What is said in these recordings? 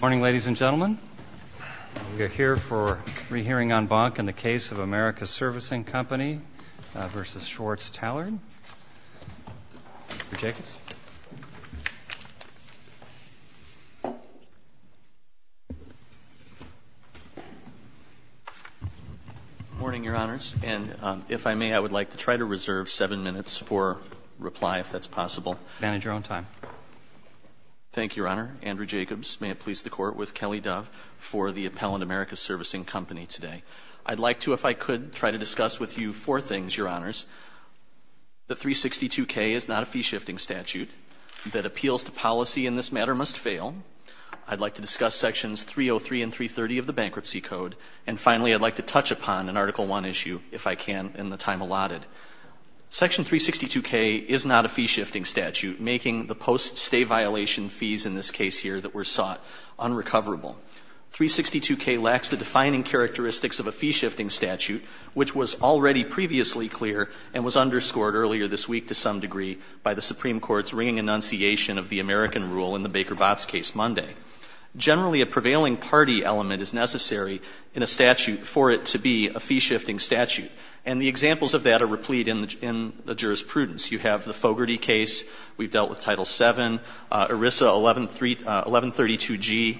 Morning, Your Honors. And if I may, I would like to try to reserve seven minutes for reply, if that's possible. Vantage your own time. Thank you, Your Honor. Andrew Jacobs. May it please the Court, with Kelly Dove for the Appellant America Servicing Company today. I'd like to, if I could, try to discuss with you four things, Your Honors. The 362K is not a fee-shifting statute. That appeals to policy in this matter must fail. I'd like to discuss sections 303 and 330 of the Bankruptcy Code. And finally, I'd like to touch upon an Article I issue, if I can, in the time allotted. Section 362K is not a fee-shifting statute, making the post-stay violation fees in this case here that were sought unrecoverable. 362K lacks the defining characteristics of a fee-shifting statute, which was already previously clear and was underscored earlier this week, to some degree, by the Supreme Court's ringing annunciation of the American rule in the Baker-Botz case Monday. Generally a prevailing party element is necessary in a statute for it to be a fee-shifting statute. And the examples of that are replete in the jurisprudence. You have the Fogarty case. We've dealt with Title VII, ERISA 1132G.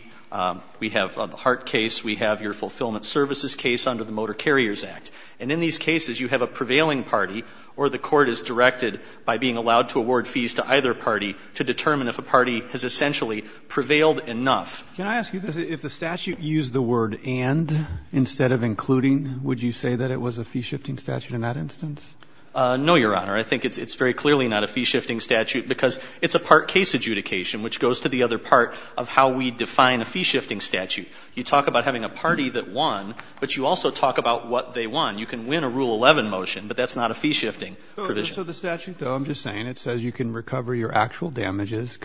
We have the Hart case. We have your Fulfillment Services case under the Motor Carriers Act. And in these cases, you have a prevailing party or the court is directed by being allowed to award fees to either party to determine if a party has essentially prevailed enough. Can I ask you this? If the statute used the word and instead of including, would you say that it was a fee-shifting statute in that instance? No, Your Honor. I think it's very clearly not a fee-shifting statute because it's a part case adjudication, which goes to the other part of how we define a fee-shifting statute. You talk about having a party that won, but you also talk about what they won. You can win a Rule 11 motion, but that's not a fee-shifting provision. So the statute, though, I'm just saying, it says you can recover your actual damages,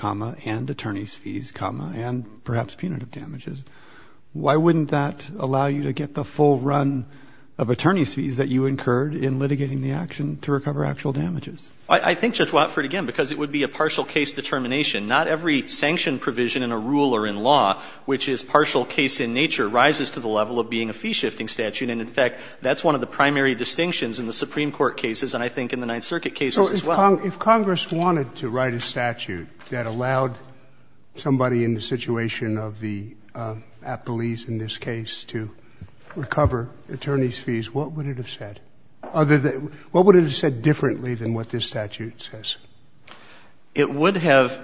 and attorney's fees, and perhaps punitive damages. Why wouldn't that allow you to get the full run of attorney's fees that you incurred in litigating the action to recover actual damages? I think, Judge Watford, again, because it would be a partial case determination. Not every sanction provision in a rule or in law, which is partial case in nature, rises to the level of being a fee-shifting statute. And, in fact, that's one of the primary distinctions in the Supreme Court cases and I think in the Ninth Circuit cases as well. So if Congress wanted to write a statute that allowed somebody in the situation of the appellees in this case to recover attorney's fees, what would it have said? What would it have said differently than what this statute says? It would have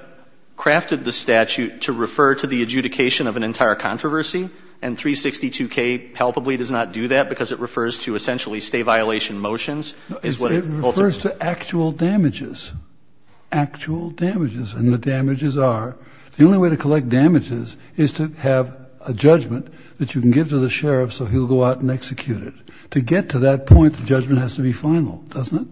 crafted the statute to refer to the adjudication of an entire controversy, and 362K palpably does not do that, because it refers to essentially State violation motions. It refers to actual damages, actual damages. And the damages are, the only way to collect damages is to have a judgment that you can give to the sheriff so he'll go out and execute it. To get to that point, the judgment has to be final, doesn't it?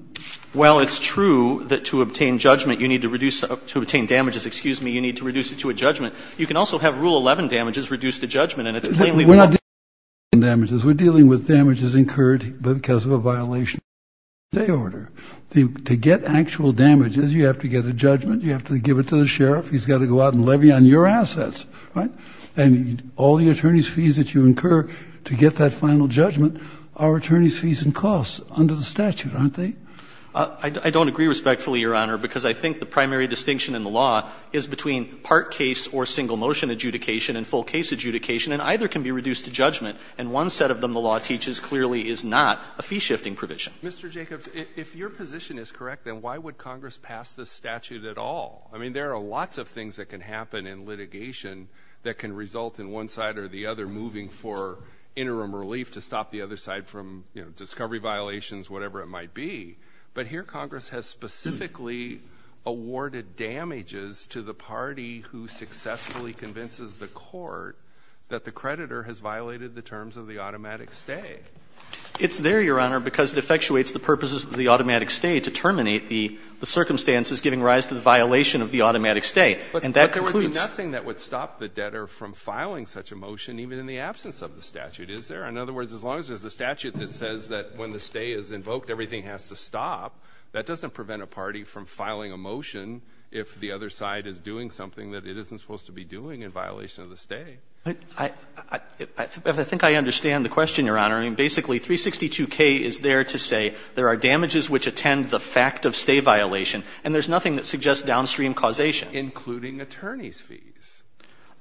Well, it's true that to obtain judgment you need to reduce the – to obtain damages, excuse me, you need to reduce it to a judgment. You can also have Rule 11 damages reduce the judgment, and it's plainly not true. We're not dealing with Rule 11 damages. We're dealing with damages incurred because of a violation of the State order. To get actual damages, you have to get a judgment, you have to give it to the sheriff, he's got to go out and levy on your assets, right? And all the attorney's fees that you incur to get that final judgment are attorney's fees and costs under the statute, aren't they? I don't agree respectfully, Your Honor, because I think the primary distinction in the law is between part case or single motion adjudication and full case adjudication, and either can be reduced to judgment. And one set of them the law teaches clearly is not a fee-shifting provision. Mr. Jacobs, if your position is correct, then why would Congress pass this statute at all? I mean, there are lots of things that can happen in litigation that can result in one side or the other moving for interim relief to stop the other side from, you know, discovery violations, whatever it might be. But here Congress has specifically awarded damages to the party who successfully convinces the court that the creditor has violated the terms of the automatic stay. It's there, Your Honor, because it effectuates the purposes of the automatic stay to terminate the circumstances giving rise to the violation of the automatic stay. And that concludes But there would be nothing that would stop the debtor from filing such a motion even in the absence of the statute, is there? In other words, as long as there's a statute that says that when the stay is invoked, everything has to stop, that doesn't prevent a party from filing a motion if the other side is doing something that it isn't supposed to be doing in violation of the stay. I think I understand the question, Your Honor. I mean, basically, 362K is there to say there are damages which attend the fact of stay violation, and there's nothing that suggests downstream causation. Including attorney's fees.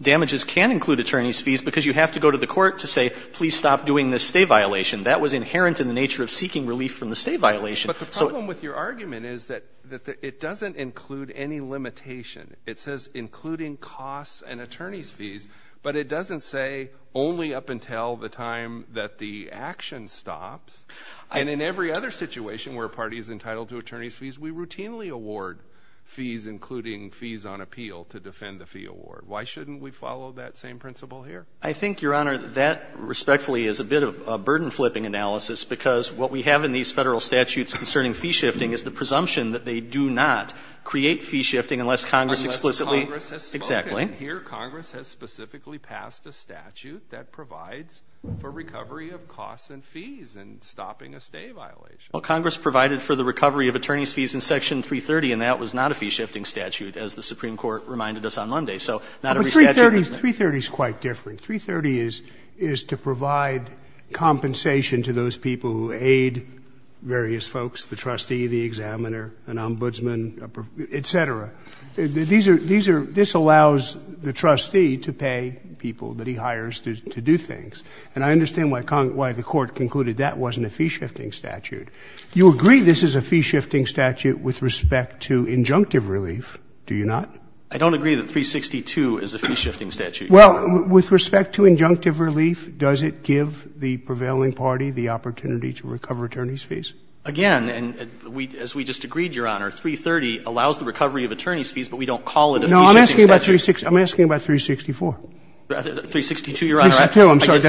Damages can include attorney's fees because you have to go to the court to say, please stop doing this stay violation. That was inherent in the nature of seeking relief from the stay violation. But the problem with your argument is that it doesn't include any limitation. It says including costs and attorney's fees, but it doesn't say only up until the time that the action stops. And in every other situation where a party is entitled to attorney's fees, we routinely award fees, including fees on appeal to defend the fee award. Why shouldn't we follow that same principle here? I think, Your Honor, that respectfully is a bit of a burden-flipping analysis because what we have in these federal statutes concerning fee shifting is the presumption that they do not create fee shifting unless Congress explicitly — Unless Congress has spoken. Exactly. Here, Congress has specifically passed a statute that provides for recovery of costs and fees in stopping a stay violation. Well, Congress provided for the recovery of attorney's fees in Section 330, and that was not a fee-shifting statute, as the Supreme Court reminded us on Monday. So not every statute — But 330 is quite different. 330 is to provide compensation to those people who aid various folks, the trustee, the examiner, an ombudsman, et cetera. These are — this allows the trustee to pay people that he hires to do things. And I understand why the Court concluded that wasn't a fee-shifting statute. You agree this is a fee-shifting statute with respect to injunctive relief, do you not? I don't agree that 362 is a fee-shifting statute, Your Honor. Well, with respect to injunctive relief, does it give the prevailing party the opportunity to recover attorney's fees? Again, as we just agreed, Your Honor, 330 allows the recovery of attorney's fees, but we don't call it a fee-shifting statute. No, I'm asking about 364. 362, Your Honor. 362, I'm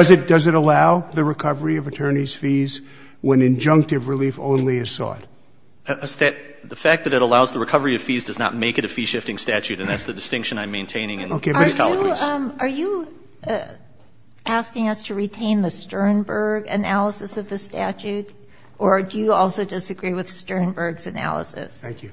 sorry. Does it allow the recovery of attorney's fees when injunctive relief only is sought? The fact that it allows the recovery of fees does not make it a fee-shifting statute, and that's the distinction I'm maintaining in these categories. Are you asking us to retain the Sternberg analysis of the statute? Or do you also disagree with Sternberg's analysis? Thank you.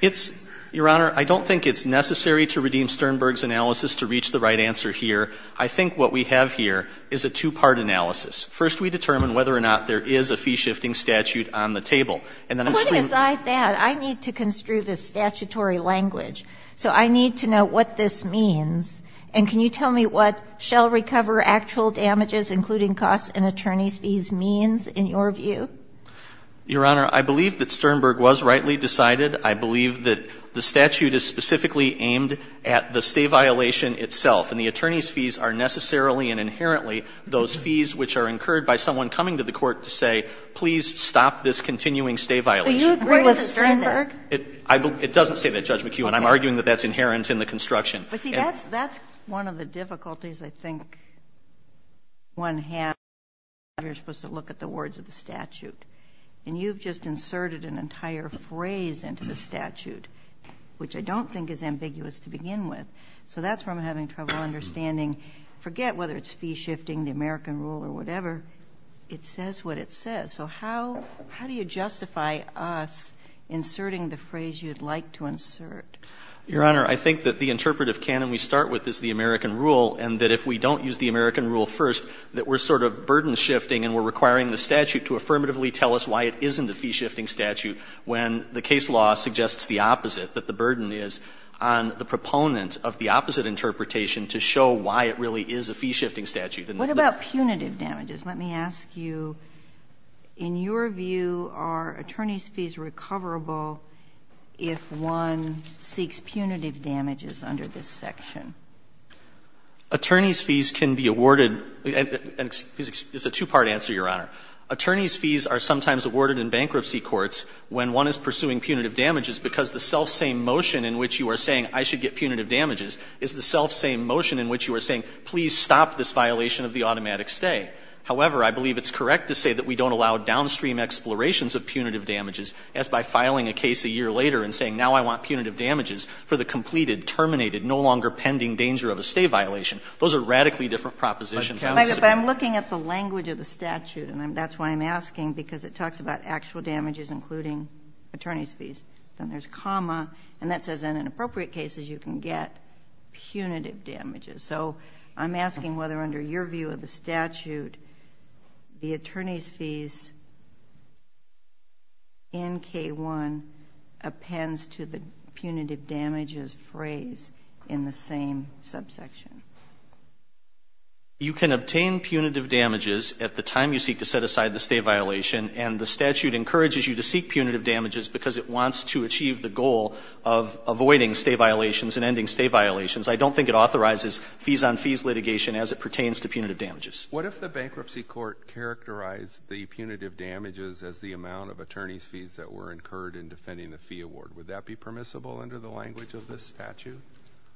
It's – Your Honor, I don't think it's necessary to redeem Sternberg's analysis to reach the right answer here. I think what we have here is a two-part analysis. First, we determine whether or not there is a fee-shifting statute on the table, and then I'm saying – Putting aside that, I need to construe this statutory language. So I need to know what this means, and can you tell me what shall recover actual damages, including costs and attorney's fees, means in your view? Your Honor, I believe that Sternberg was rightly decided. I believe that the statute is specifically aimed at the stay violation itself, and the attorney's fees are necessarily and inherently those fees which are incurred by someone coming to the court to say, please stop this continuing stay violation. But you agree with Sternberg? It doesn't say that, Judge McEwen. I'm arguing that that's inherent in the construction. But see, that's one of the difficulties I think one has when you're supposed to look at the words of the statute, and you've just inserted an entire phrase into the statute, which I don't think is ambiguous to begin with. So that's where I'm having trouble understanding. Forget whether it's fee-shifting, the American rule or whatever, it says what it says. So how do you justify us inserting the phrase you'd like to insert? Your Honor, I think that the interpretive canon we start with is the American rule, and that if we don't use the American rule first, that we're sort of burden shifting and we're requiring the statute to affirmatively tell us why it isn't a fee-shifting statute when the case law suggests the opposite, that the burden is on the proponent of the opposite interpretation to show why it really is a fee-shifting statute. And the other thing is that the statute is not a fee-shifting statute. What about punitive damages? Let me ask you, in your view, are attorney's fees recoverable if one says, I'm going to get punitive damages, but the state seeks punitive damages under this section? Attorney's fees can be awarded, and it's a two-part answer, Your Honor. Attorney's fees are sometimes awarded in bankruptcy courts when one is pursuing punitive damages because the self-same motion in which you are saying I should get punitive damages is the self-same motion in which you are saying, please stop this violation of the automatic stay. However, I believe it's correct to say that we don't allow downstream explorations of punitive damages, as by filing a case a year later and saying now I want punitive damages for the completed, terminated, no longer pending danger of a stay violation. Those are radically different propositions, I must say. But I'm looking at the language of the statute, and that's why I'm asking, because it talks about actual damages including attorney's fees. Then there's comma, and that says in inappropriate cases you can get punitive damages. So I'm asking whether under your view of the statute the attorney's fees in K-1 appends to the punitive damages phrase in the same subsection. You can obtain punitive damages at the time you seek to set aside the stay violation, and the statute encourages you to seek punitive damages because it wants to achieve the goal of avoiding stay violations and ending stay violations. I don't think it authorizes fees-on-fees litigation as it pertains to punitive damages. What if the bankruptcy court characterized the punitive damages as the amount of attorney's fees that were incurred in defending the fee award? Would that be permissible under the language of this statute?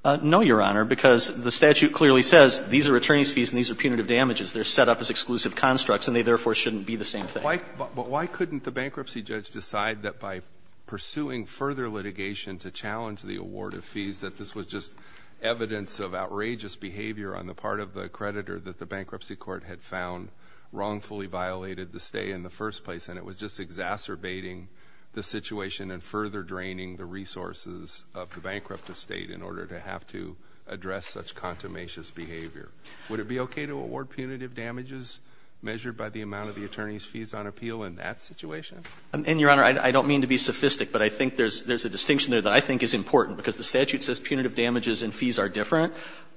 No, Your Honor, because the statute clearly says these are attorney's fees and these are punitive damages. They're set up as exclusive constructs, and they therefore shouldn't be the same thing. But why couldn't the bankruptcy judge decide that by pursuing further litigation to challenge the award of fees that this was just evidence of outrageous behavior on the part of the creditor that the bankruptcy court had found wrongfully violated the stay in the first place, and it was just exacerbating the situation and further draining the resources of the bankrupt estate in order to have to address such contumacious behavior? Would it be okay to award punitive damages measured by the amount of the attorney's fees on appeal in that situation? And, Your Honor, I don't mean to be sophistic, but I think there's a distinction there that I think is important, because the statute says punitive damages and fees are different.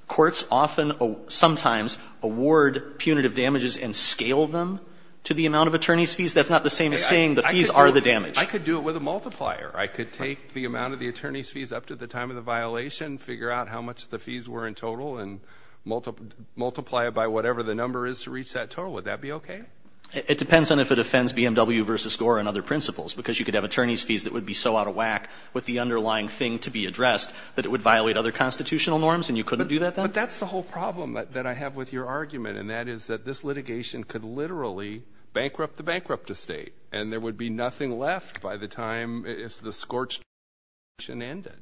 Courts often, sometimes, award punitive damages and scale them to the amount of attorney's fees. That's not the same as saying the fees are the damage. I could do it with a multiplier. I could take the amount of the attorney's fees up to the time of the violation, figure out how much the fees were in total, and multiply it by whatever the number is to reach that total. Would that be okay? It depends on if it offends BMW v. Gore and other principles, because you could have attorney's fees that would be so out of whack with the underlying thing to be addressed that it would violate other constitutional norms, and you couldn't do that then? But that's the whole problem that I have with your argument, and that is that this litigation could literally bankrupt the bankrupt estate, and there would be nothing left by the time the scorched earth action ended.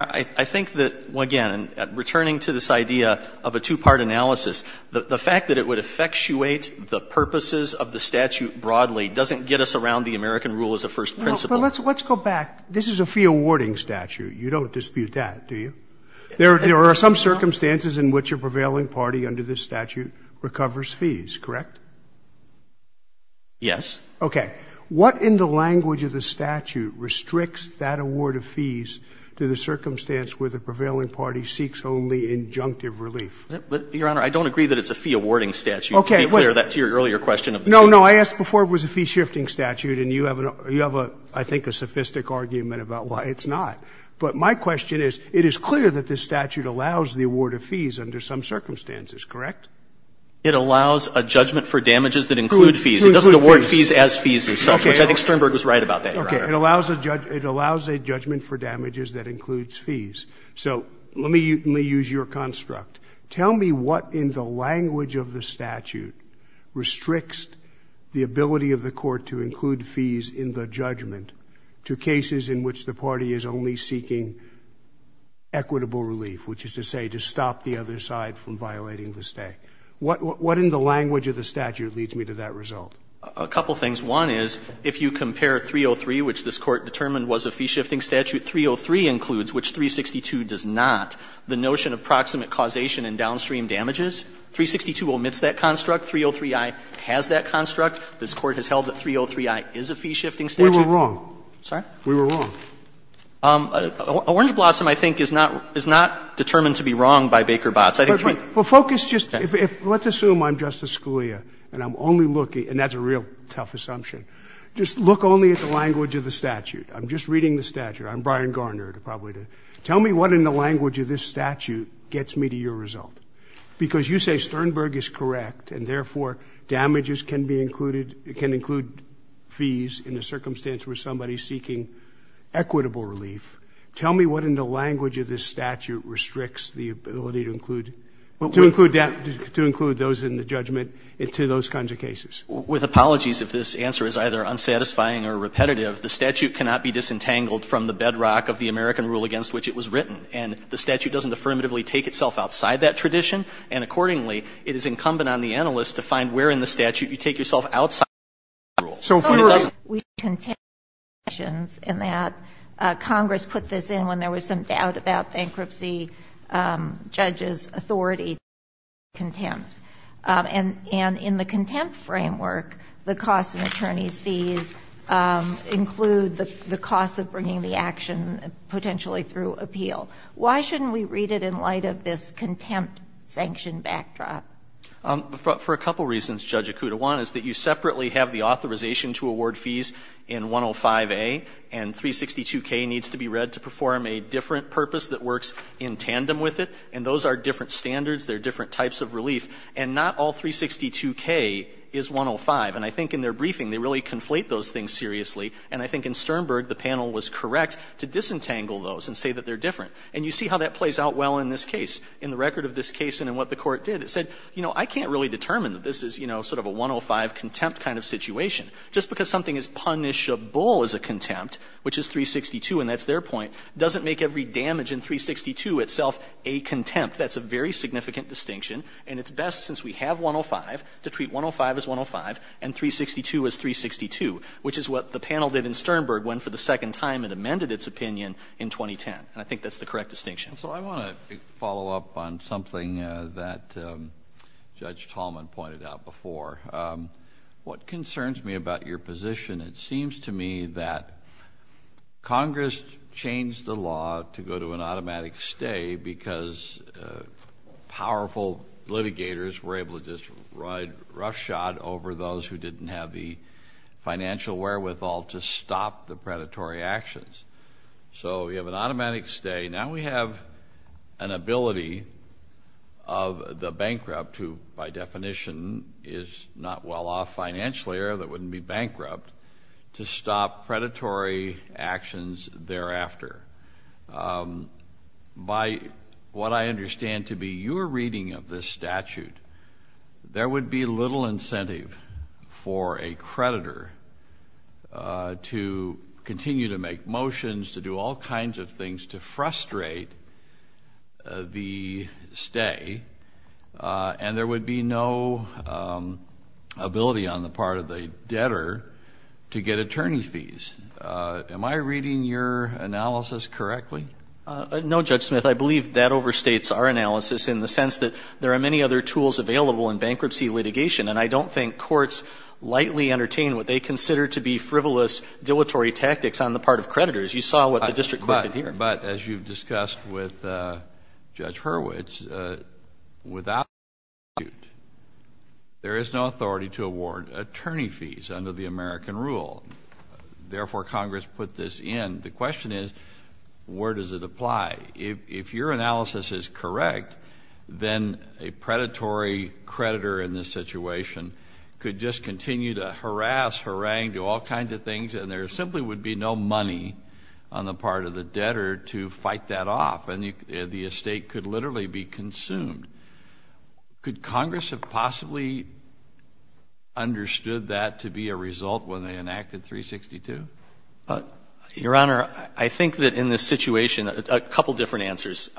I think that, again, returning to this idea of a two-part analysis, the fact that it would effectuate the purposes of the statute broadly doesn't get us around the American rule as a first principle. Well, let's go back. This is a fee-awarding statute. You don't dispute that, do you? There are some circumstances in which a prevailing party under this statute recovers fees, correct? Yes. Okay. What in the language of the statute restricts that award of fees to the circumstance where the prevailing party seeks only injunctive relief? Your Honor, I don't agree that it's a fee-awarding statute. Okay. To be clear, that's your earlier question of the statute. No, no. I asked before if it was a fee-shifting statute, and you have a – you have a, I think, a sophisticated argument about why it's not. But my question is, it is clear that this statute allows the award of fees under some circumstances, correct? It allows a judgment for damages that include fees. It doesn't award fees as fees as such, which I think Sternberg was right about that, Your Honor. Okay. It allows a judgment for damages that includes fees. So let me use your construct. Tell me what in the language of the statute restricts the ability of the court to include fees in the judgment to cases in which the party is only seeking equitable relief, which is to say to stop the other side from violating the stay. What in the language of the statute leads me to that result? A couple things. One is, if you compare 303, which this Court determined was a fee-shifting statute, 303 includes, which 362 does not, the notion of proximate causation in downstream damages, 362 omits that construct, 303i has that construct. This Court has held that 303i is a fee-shifting statute. We were wrong. Sorry? We were wrong. Orange Blossom, I think, is not – is not determined to be wrong by Baker-Botz. I think three – But focus just – let's assume I'm Justice Scalia and I'm only looking – and that's a real tough assumption. Just look only at the language of the statute. I'm just reading the statute. I'm Brian Garner, probably. Tell me what in the language of this statute gets me to your result. Because you say Sternberg is correct and, therefore, damages can be included – can include fees in the circumstance where somebody is seeking equitable relief. Tell me what in the language of this statute restricts the ability to include – to include those in the judgment to those kinds of cases. With apologies, if this answer is either unsatisfying or repetitive, the statute cannot be disentangled from the bedrock of the American rule against which it was written. And the statute doesn't affirmatively take itself outside that tradition. And, accordingly, it is incumbent on the analyst to find where in the statute you take yourself outside the American rule. So, if we were – We contend with objections in that Congress put this in when there was some doubt about bankruptcy judges' authority to seek contempt. And in the contempt framework, the cost of attorney's fees include the cost of bringing the action potentially through appeal. Why shouldn't we read it in light of this contempt sanction backdrop? For a couple reasons, Judge Okutawan, is that you separately have the authorization to award fees in 105A, and 362K needs to be read to perform a different purpose that works in tandem with it, and those are different standards. They're different types of relief. And not all 362K is 105. And I think in their briefing, they really conflate those things seriously. And I think in Sternberg, the panel was correct to disentangle those and say that they're different. And you see how that plays out well in this case. In the record of this case and in what the Court did, it said, you know, I can't really determine that this is, you know, sort of a 105 contempt kind of situation. Just because something is punishable as a contempt, which is 362, and that's their point, doesn't make every damage in 362 itself a contempt. That's a very significant distinction, and it's best, since we have 105, to treat 105 as 105 and 362 as 362, which is what the panel did in Sternberg when, for the second time, it amended its opinion in 2010. And I think that's the correct distinction. So I want to follow up on something that Judge Tallman pointed out before. What concerns me about your position, it seems to me that Congress changed the law to go to an automatic stay because powerful litigators were able to just ride roughshod over those who didn't have the financial wherewithal to stop the predatory actions. So you have an automatic stay. Now we have an ability of the bankrupt, who, by definition, is not well off financially or that wouldn't be bankrupt, to stop predatory actions thereafter. By what I understand to be your reading of this statute, there would be little incentive for a creditor to continue to make motions, to do all kinds of things to frustrate the stay, and there would be no ability on the part of the debtor to get attorney's fees. Am I reading your analysis correctly? No, Judge Smith. I believe that overstates our analysis in the sense that there are many other tools available in bankruptcy litigation, and I don't think courts lightly entertain what they consider to be frivolous, dilatory tactics on the part of creditors. You saw what the district court did here. But as you've discussed with Judge Hurwitz, without this statute, there is no authority to award attorney fees under the American rule. Therefore, Congress put this in. The question is, where does it apply? If your analysis is correct, then a predatory creditor in this situation could just continue to harass, harangue, do all kinds of things, and there is no way for the creditor to fight that off, and the estate could literally be consumed. Could Congress have possibly understood that to be a result when they enacted 362? Your Honor, I think that in this situation, a couple of different answers.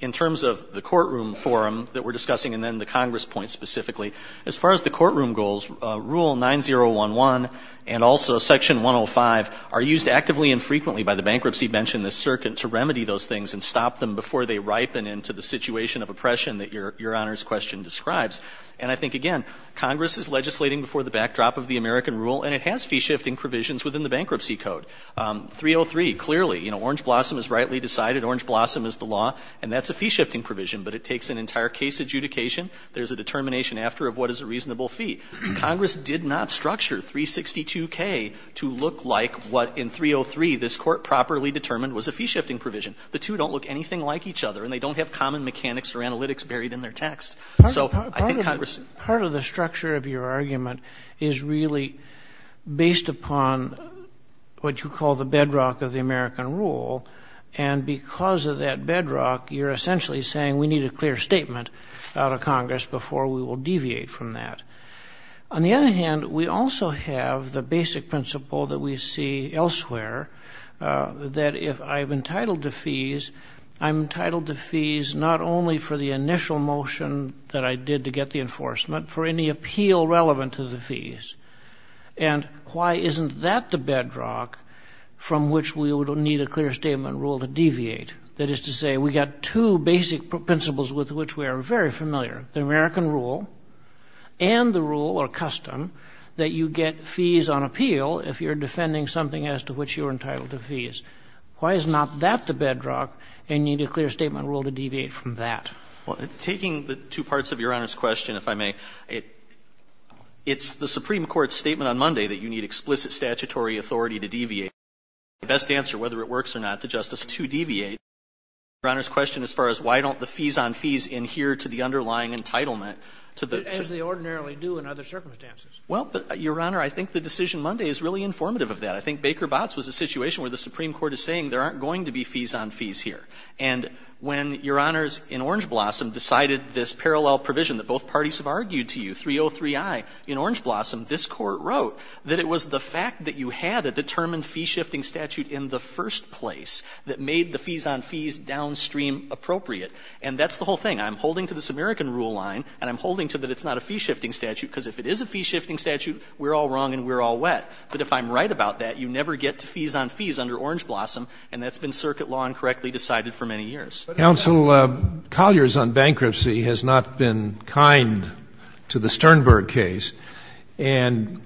In terms of the courtroom forum that we're discussing, and then the Congress point specifically, as far as the courtroom goals, Rule 9011 and also Section 105 are used actively and frequently by the bankruptcy bench in this circuit to remedy those things and stop them before they ripen into the situation of oppression that Your Honor's question describes. And I think, again, Congress is legislating before the backdrop of the American rule, and it has fee-shifting provisions within the Bankruptcy Code. 303, clearly, you know, orange blossom is rightly decided, orange blossom is the law, and that's a fee-shifting provision, but it takes an entire case adjudication. There's a determination after of what is a reasonable fee. Congress did not structure 362K to look like what, in 303, this Court properly determined was a fee-shifting provision. The two don't look anything like each other, and they don't have common mechanics or analytics buried in their text. So I think Congress — Part of the structure of your argument is really based upon what you call the bedrock of the American rule, and because of that bedrock, you're essentially saying we need a clear statement out of Congress before we will deviate from that. On the other hand, we also have the basic principle that we see elsewhere, that if I'm entitled to fees, I'm entitled to fees not only for the initial motion that I did to get the enforcement, for any appeal relevant to the fees. And why isn't that the bedrock from which we would need a clear statement rule to deviate? That is to say, we've got two basic principles with which we are very familiar, the American rule and the rule, or custom, that you get fees on appeal if you're defending something as to which you're entitled to fees. Why is not that the bedrock and you need a clear statement rule to deviate from that? Well, taking the two parts of Your Honor's question, if I may, it's the Supreme Court's statement on Monday that you need explicit statutory authority to deviate. The best answer, whether it works or not, to Justice, is to deviate. Your Honor's question as far as why don't the fees on fees adhere to the underlying entitlement to the — As they ordinarily do in other circumstances. Well, but, Your Honor, I think the decision Monday is really informative of that. I think Baker-Botz was a situation where the Supreme Court is saying there aren't going to be fees on fees here. And when Your Honors in Orange Blossom decided this parallel provision that both parties have argued to you, 303i in Orange Blossom, this Court wrote that it was the fact that you had a determined fee-shifting statute in the first place that made the fees on fees downstream appropriate. And that's the whole thing. I'm holding to this American rule line, and I'm holding to that it's not a fee-shifting statute, because if it is a fee-shifting statute, we're all wrong and we're all wet. But if I'm right about that, you never get to fees on fees under Orange Blossom, and that's been circuit law incorrectly decided for many years. But, Counsel, Collier's on bankruptcy has not been kind to the Sternberg case. And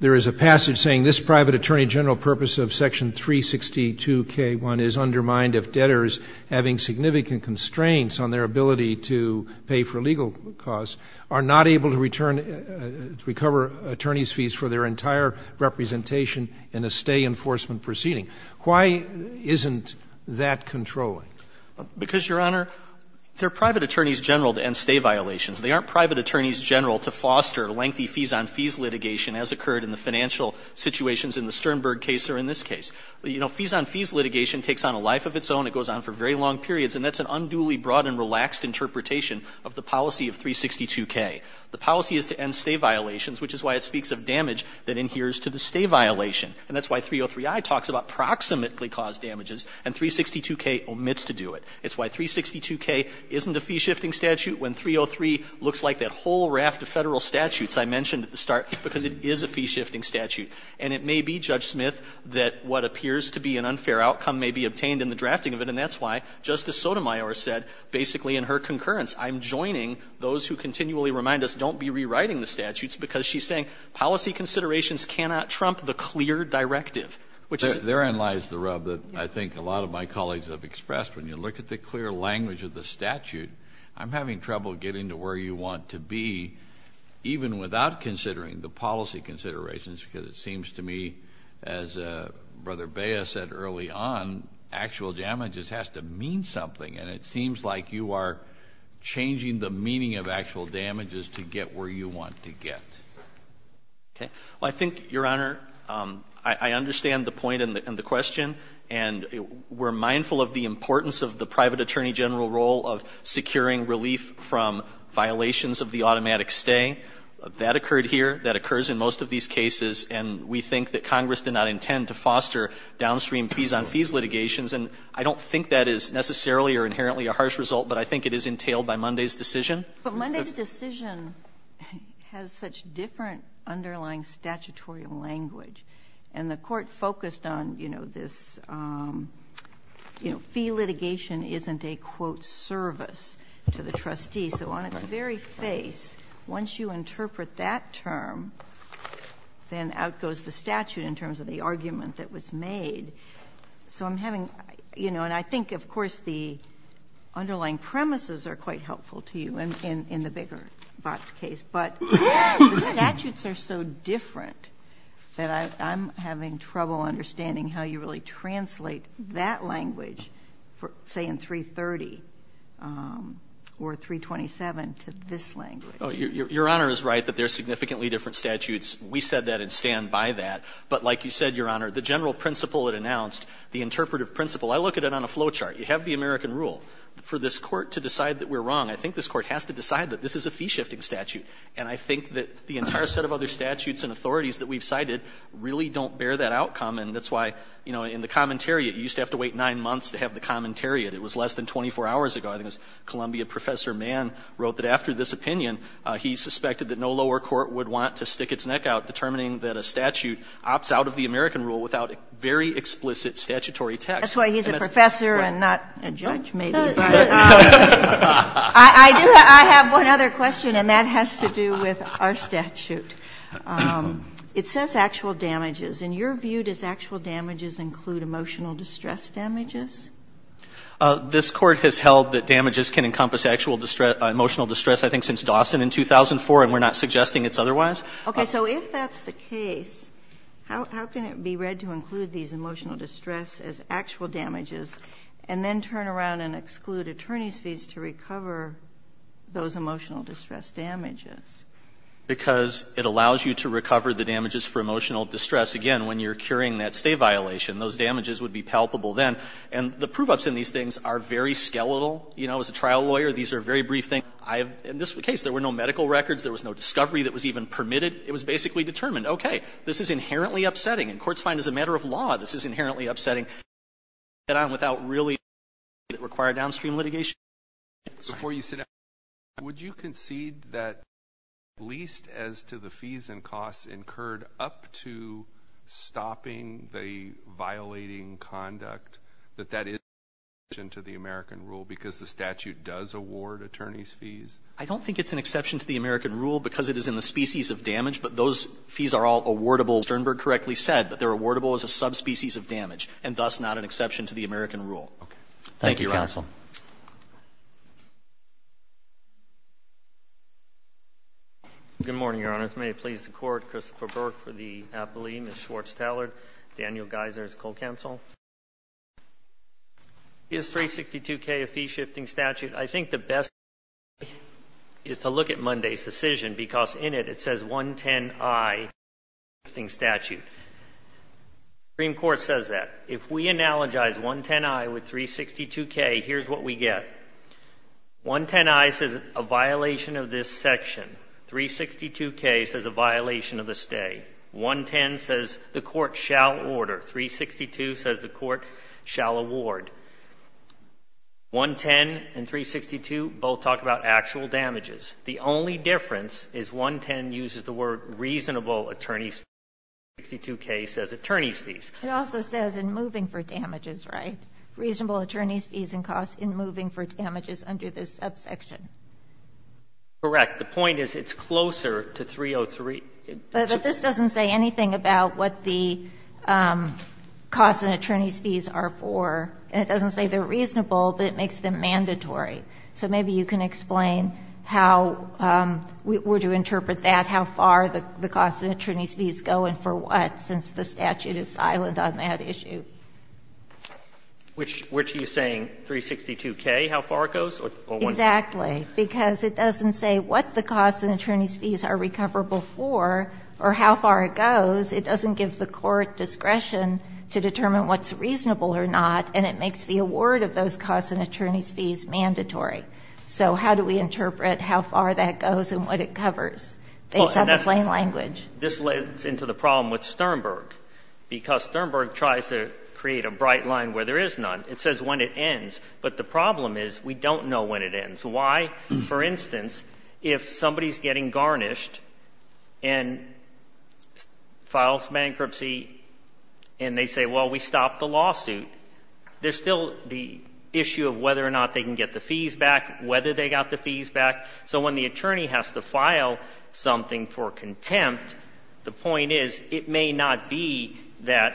there is a passage saying this private attorney general purpose of section 362k1 is undermined if debtors having significant constraints on their ability to pay for representation in a stay enforcement proceeding. Why isn't that controlling? Because, Your Honor, they're private attorneys general to end stay violations. They aren't private attorneys general to foster lengthy fees on fees litigation as occurred in the financial situations in the Sternberg case or in this case. You know, fees on fees litigation takes on a life of its own. It goes on for very long periods, and that's an unduly broad and relaxed interpretation of the policy of 362k. The policy is to end stay violations, which is why it speaks of damage that adheres to the stay violation. And that's why 303i talks about proximately caused damages and 362k omits to do it. It's why 362k isn't a fee-shifting statute when 303 looks like that whole raft of Federal statutes I mentioned at the start because it is a fee-shifting statute. And it may be, Judge Smith, that what appears to be an unfair outcome may be obtained in the drafting of it, and that's why Justice Sotomayor said basically in her concurrence, I'm joining those who continually remind us don't be rewriting the statutes because she's saying policy considerations cannot trump the clear directive. Therein lies the rub that I think a lot of my colleagues have expressed. When you look at the clear language of the statute, I'm having trouble getting to where you want to be even without considering the policy considerations because it seems to me, as Brother Baya said early on, actual damages has to mean something, and it seems like you are changing the meaning of actual damages to get where you want to get. Well, I think, Your Honor, I understand the point and the question, and we're mindful of the importance of the private attorney general role of securing relief from violations of the automatic stay. That occurred here. That occurs in most of these cases, and we think that Congress did not intend to foster downstream fees-on-fees litigations. And I don't think that is necessarily or inherently a harsh result, but I think it is entailed by Monday's decision. But Monday's decision has such different underlying statutory language. And the Court focused on, you know, this, you know, fee litigation isn't a, quote, service to the trustee. So on its very face, once you interpret that term, then out goes the statute in terms of the argument that was made. So I'm having, you know, and I think, of course, the underlying premises are quite helpful to you in the bigger VOTS case. But the statutes are so different that I'm having trouble understanding how you really translate that language, say, in 330 or 327 to this language. Your Honor is right that there are significantly different statutes. We said that and stand by that. But like you said, Your Honor, the general principle it announced, the interpretive principle, I look at it on a flow chart. You have the American rule. For this Court to decide that we're wrong, I think this Court has to decide that this is a fee-shifting statute. And I think that the entire set of other statutes and authorities that we've cited really don't bear that outcome. And that's why, you know, in the commentariat, you used to have to wait 9 months to have the commentariat. It was less than 24 hours ago. I think it was Columbia Professor Mann wrote that after this opinion, he suspected that no lower court would want to stick its neck out determining that a statute opts out of the American rule without very explicit statutory text. That's why he's a professor and not a judge, maybe. I have one other question, and that has to do with our statute. It says actual damages. In your view, does actual damages include emotional distress damages? This Court has held that damages can encompass actual emotional distress, I think, since Dawson in 2004, and we're not suggesting it's otherwise. Okay. So if that's the case, how can it be read to include these emotional distress as actual damages and then turn around and exclude attorney's fees to recover those emotional distress damages? Because it allows you to recover the damages for emotional distress. Again, when you're curing that stay violation, those damages would be palpable then. And the prove-ups in these things are very skeletal. You know, as a trial lawyer, these are very brief things. I have, in this case, there were no medical records. There was no discovery that was even permitted. It was basically determined, okay, this is inherently upsetting, and courts find as a matter of law this is inherently upsetting. You can't get on without really doing something that required downstream litigation. Sorry. Before you sit down, would you concede that at least as to the fees and costs incurred up to stopping the violating conduct, that that is a violation to the American rule because the statute does award attorney's fees? I don't think it's an exception to the American rule because it is in the species of damage, but those fees are all awardable. Sternberg correctly said that they're awardable as a subspecies of damage and thus not an exception to the American rule. Okay. Thank you, Your Honor. Thank you, counsel. Good morning, Your Honors. May it please the Court, Christopher Burke for the appellee, Ms. Schwartz-Tallard, Daniel Geiser as co-counsel. Is 362K a fee-shifting statute? I think the best way is to look at Monday's decision because in it, it says 110I, fee-shifting statute. The Supreme Court says that. If we analogize 110I with 362K, here's what we get. 110I says a violation of this section. 362K says a violation of the stay. 110 says the Court shall order. 362 says the Court shall award. 110 and 362 both talk about actual damages. The only difference is 110 uses the word reasonable attorney's fees and 362K says attorney's fees. It also says in moving for damages, right? Reasonable attorney's fees and costs in moving for damages under this subsection. Correct. The point is it's closer to 303. But this doesn't say anything about what the costs and attorney's fees are for. And it doesn't say they're reasonable, but it makes them mandatory. So maybe you can explain how we're to interpret that, how far the costs and attorney's fees go and for what, since the statute is silent on that issue. Which is saying 362K, how far it goes? Exactly. Because it doesn't say what the costs and attorney's fees are recoverable for or how far it goes. It doesn't give the Court discretion to determine what's reasonable or not. And it makes the award of those costs and attorney's fees mandatory. So how do we interpret how far that goes and what it covers? Based on the plain language. This leads into the problem with Sternberg, because Sternberg tries to create a bright line where there is none. But the problem is we don't know when it ends. Why, for instance, if somebody is getting garnished and files bankruptcy and they say, well, we stopped the lawsuit, there's still the issue of whether or not they can get the fees back, whether they got the fees back. So when the attorney has to file something for contempt, the point is it may not be that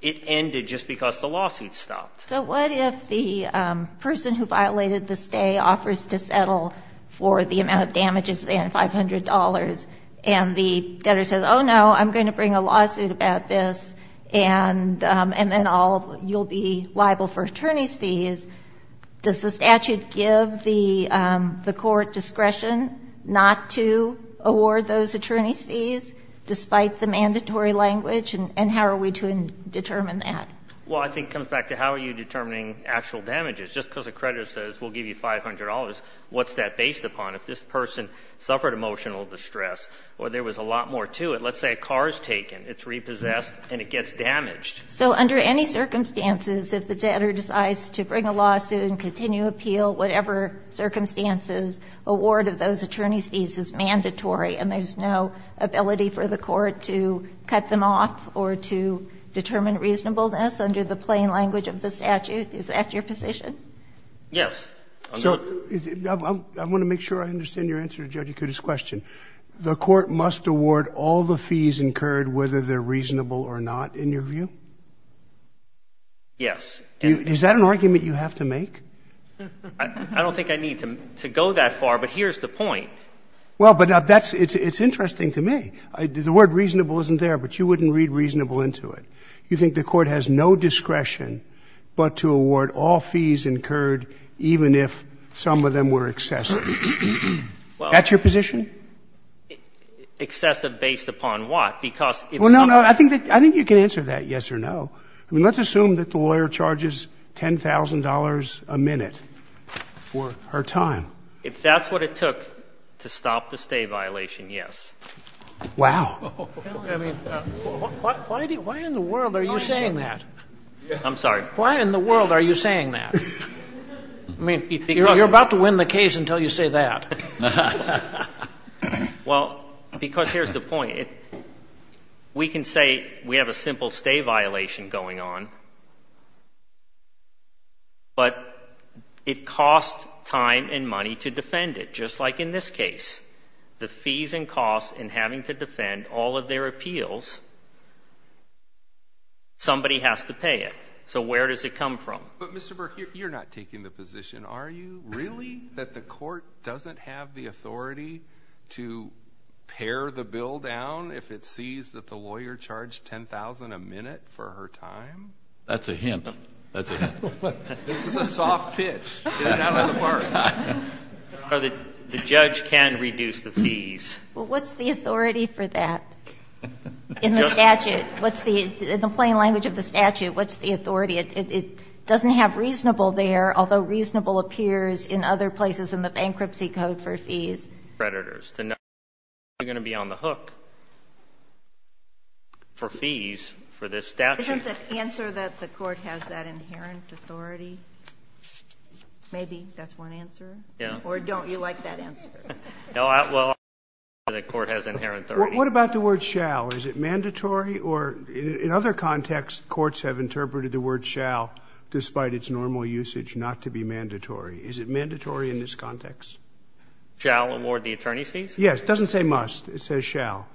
it ended just because the lawsuit stopped. So what if the person who violated the stay offers to settle for the amount of damages, the $500, and the debtor says, oh, no, I'm going to bring a lawsuit about this, and then you'll be liable for attorney's fees. Does the statute give the Court discretion not to award those attorney's fees despite the mandatory language? And how are we to determine that? Well, I think it comes back to how are you determining actual damages? Just because a creditor says we'll give you $500, what's that based upon? If this person suffered emotional distress or there was a lot more to it, let's say a car is taken, it's repossessed, and it gets damaged. So under any circumstances, if the debtor decides to bring a lawsuit and continue appeal, whatever circumstances, award of those attorney's fees is mandatory and there's no ability for the Court to cut them off or to determine reasonableness under the plain language of the statute. Is that your position? Yes. So I want to make sure I understand your answer to Judge Akuta's question. The Court must award all the fees incurred whether they're reasonable or not, in your view? Yes. Is that an argument you have to make? I don't think I need to go that far, but here's the point. Well, but that's – it's interesting to me. The word reasonable isn't there, but you wouldn't read reasonable into it. You think the Court has no discretion but to award all fees incurred even if some of them were excessive. Well, that's your position? Excessive based upon what? Because if some of them are excessive. Well, no, no. I think you can answer that yes or no. I mean, let's assume that the lawyer charges $10,000 a minute for her time. If that's what it took to stop the stay violation, yes. Wow. I mean, why in the world are you saying that? I'm sorry? Why in the world are you saying that? I mean, you're about to win the case until you say that. Well, because here's the point. We can say we have a simple stay violation going on, but it costs time and money to defend it, just like in this case. The fees and costs in having to defend all of their appeals, somebody has to pay it. So where does it come from? But, Mr. Burke, you're not taking the position, are you? Is it really that the court doesn't have the authority to pare the bill down if it sees that the lawyer charged $10,000 a minute for her time? That's a hint. That's a hint. This is a soft pitch. Get it out of the park. The judge can reduce the fees. Well, what's the authority for that? In the statute. In the plain language of the statute, what's the authority? It doesn't have reasonable there, although reasonable appears in other places in the Bankruptcy Code for fees. Predators. They're not going to be on the hook for fees for this statute. Isn't the answer that the court has that inherent authority? Maybe that's one answer. Yeah. Or don't you like that answer? No, well, I think the answer is the court has inherent authority. What about the word shall? Is it mandatory? In other contexts, courts have interpreted the word shall, despite its normal usage, not to be mandatory. Is it mandatory in this context? Shall award the attorney's fees? Yes. It doesn't say must. It says shall.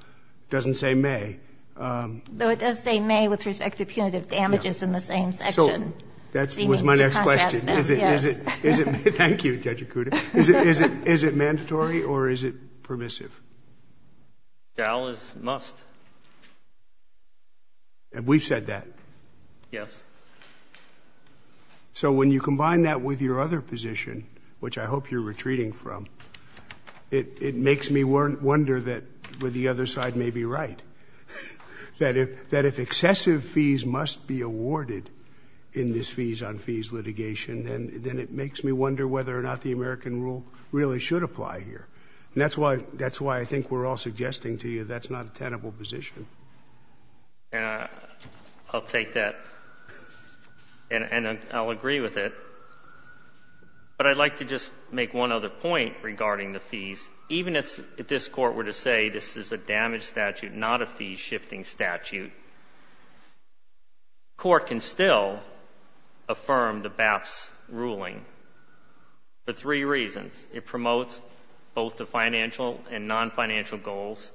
It doesn't say may. No, it does say may with respect to punitive damages in the same section. That was my next question. Thank you, Judge Acuda. Is it mandatory or is it permissive? Shall is must. And we've said that. Yes. So when you combine that with your other position, which I hope you're retreating from, it makes me wonder that the other side may be right. That if excessive fees must be awarded in this fees on fees litigation, then it makes me wonder whether or not the American rule really should apply here. And that's why I think we're all suggesting to you that's not a tenable position. I'll take that. And I'll agree with it. But I'd like to just make one other point regarding the fees. Even if this court were to say this is a damage statute, not a fees shifting statute, court can still affirm the BAP's ruling for three reasons. It promotes both the financial and non-financial goals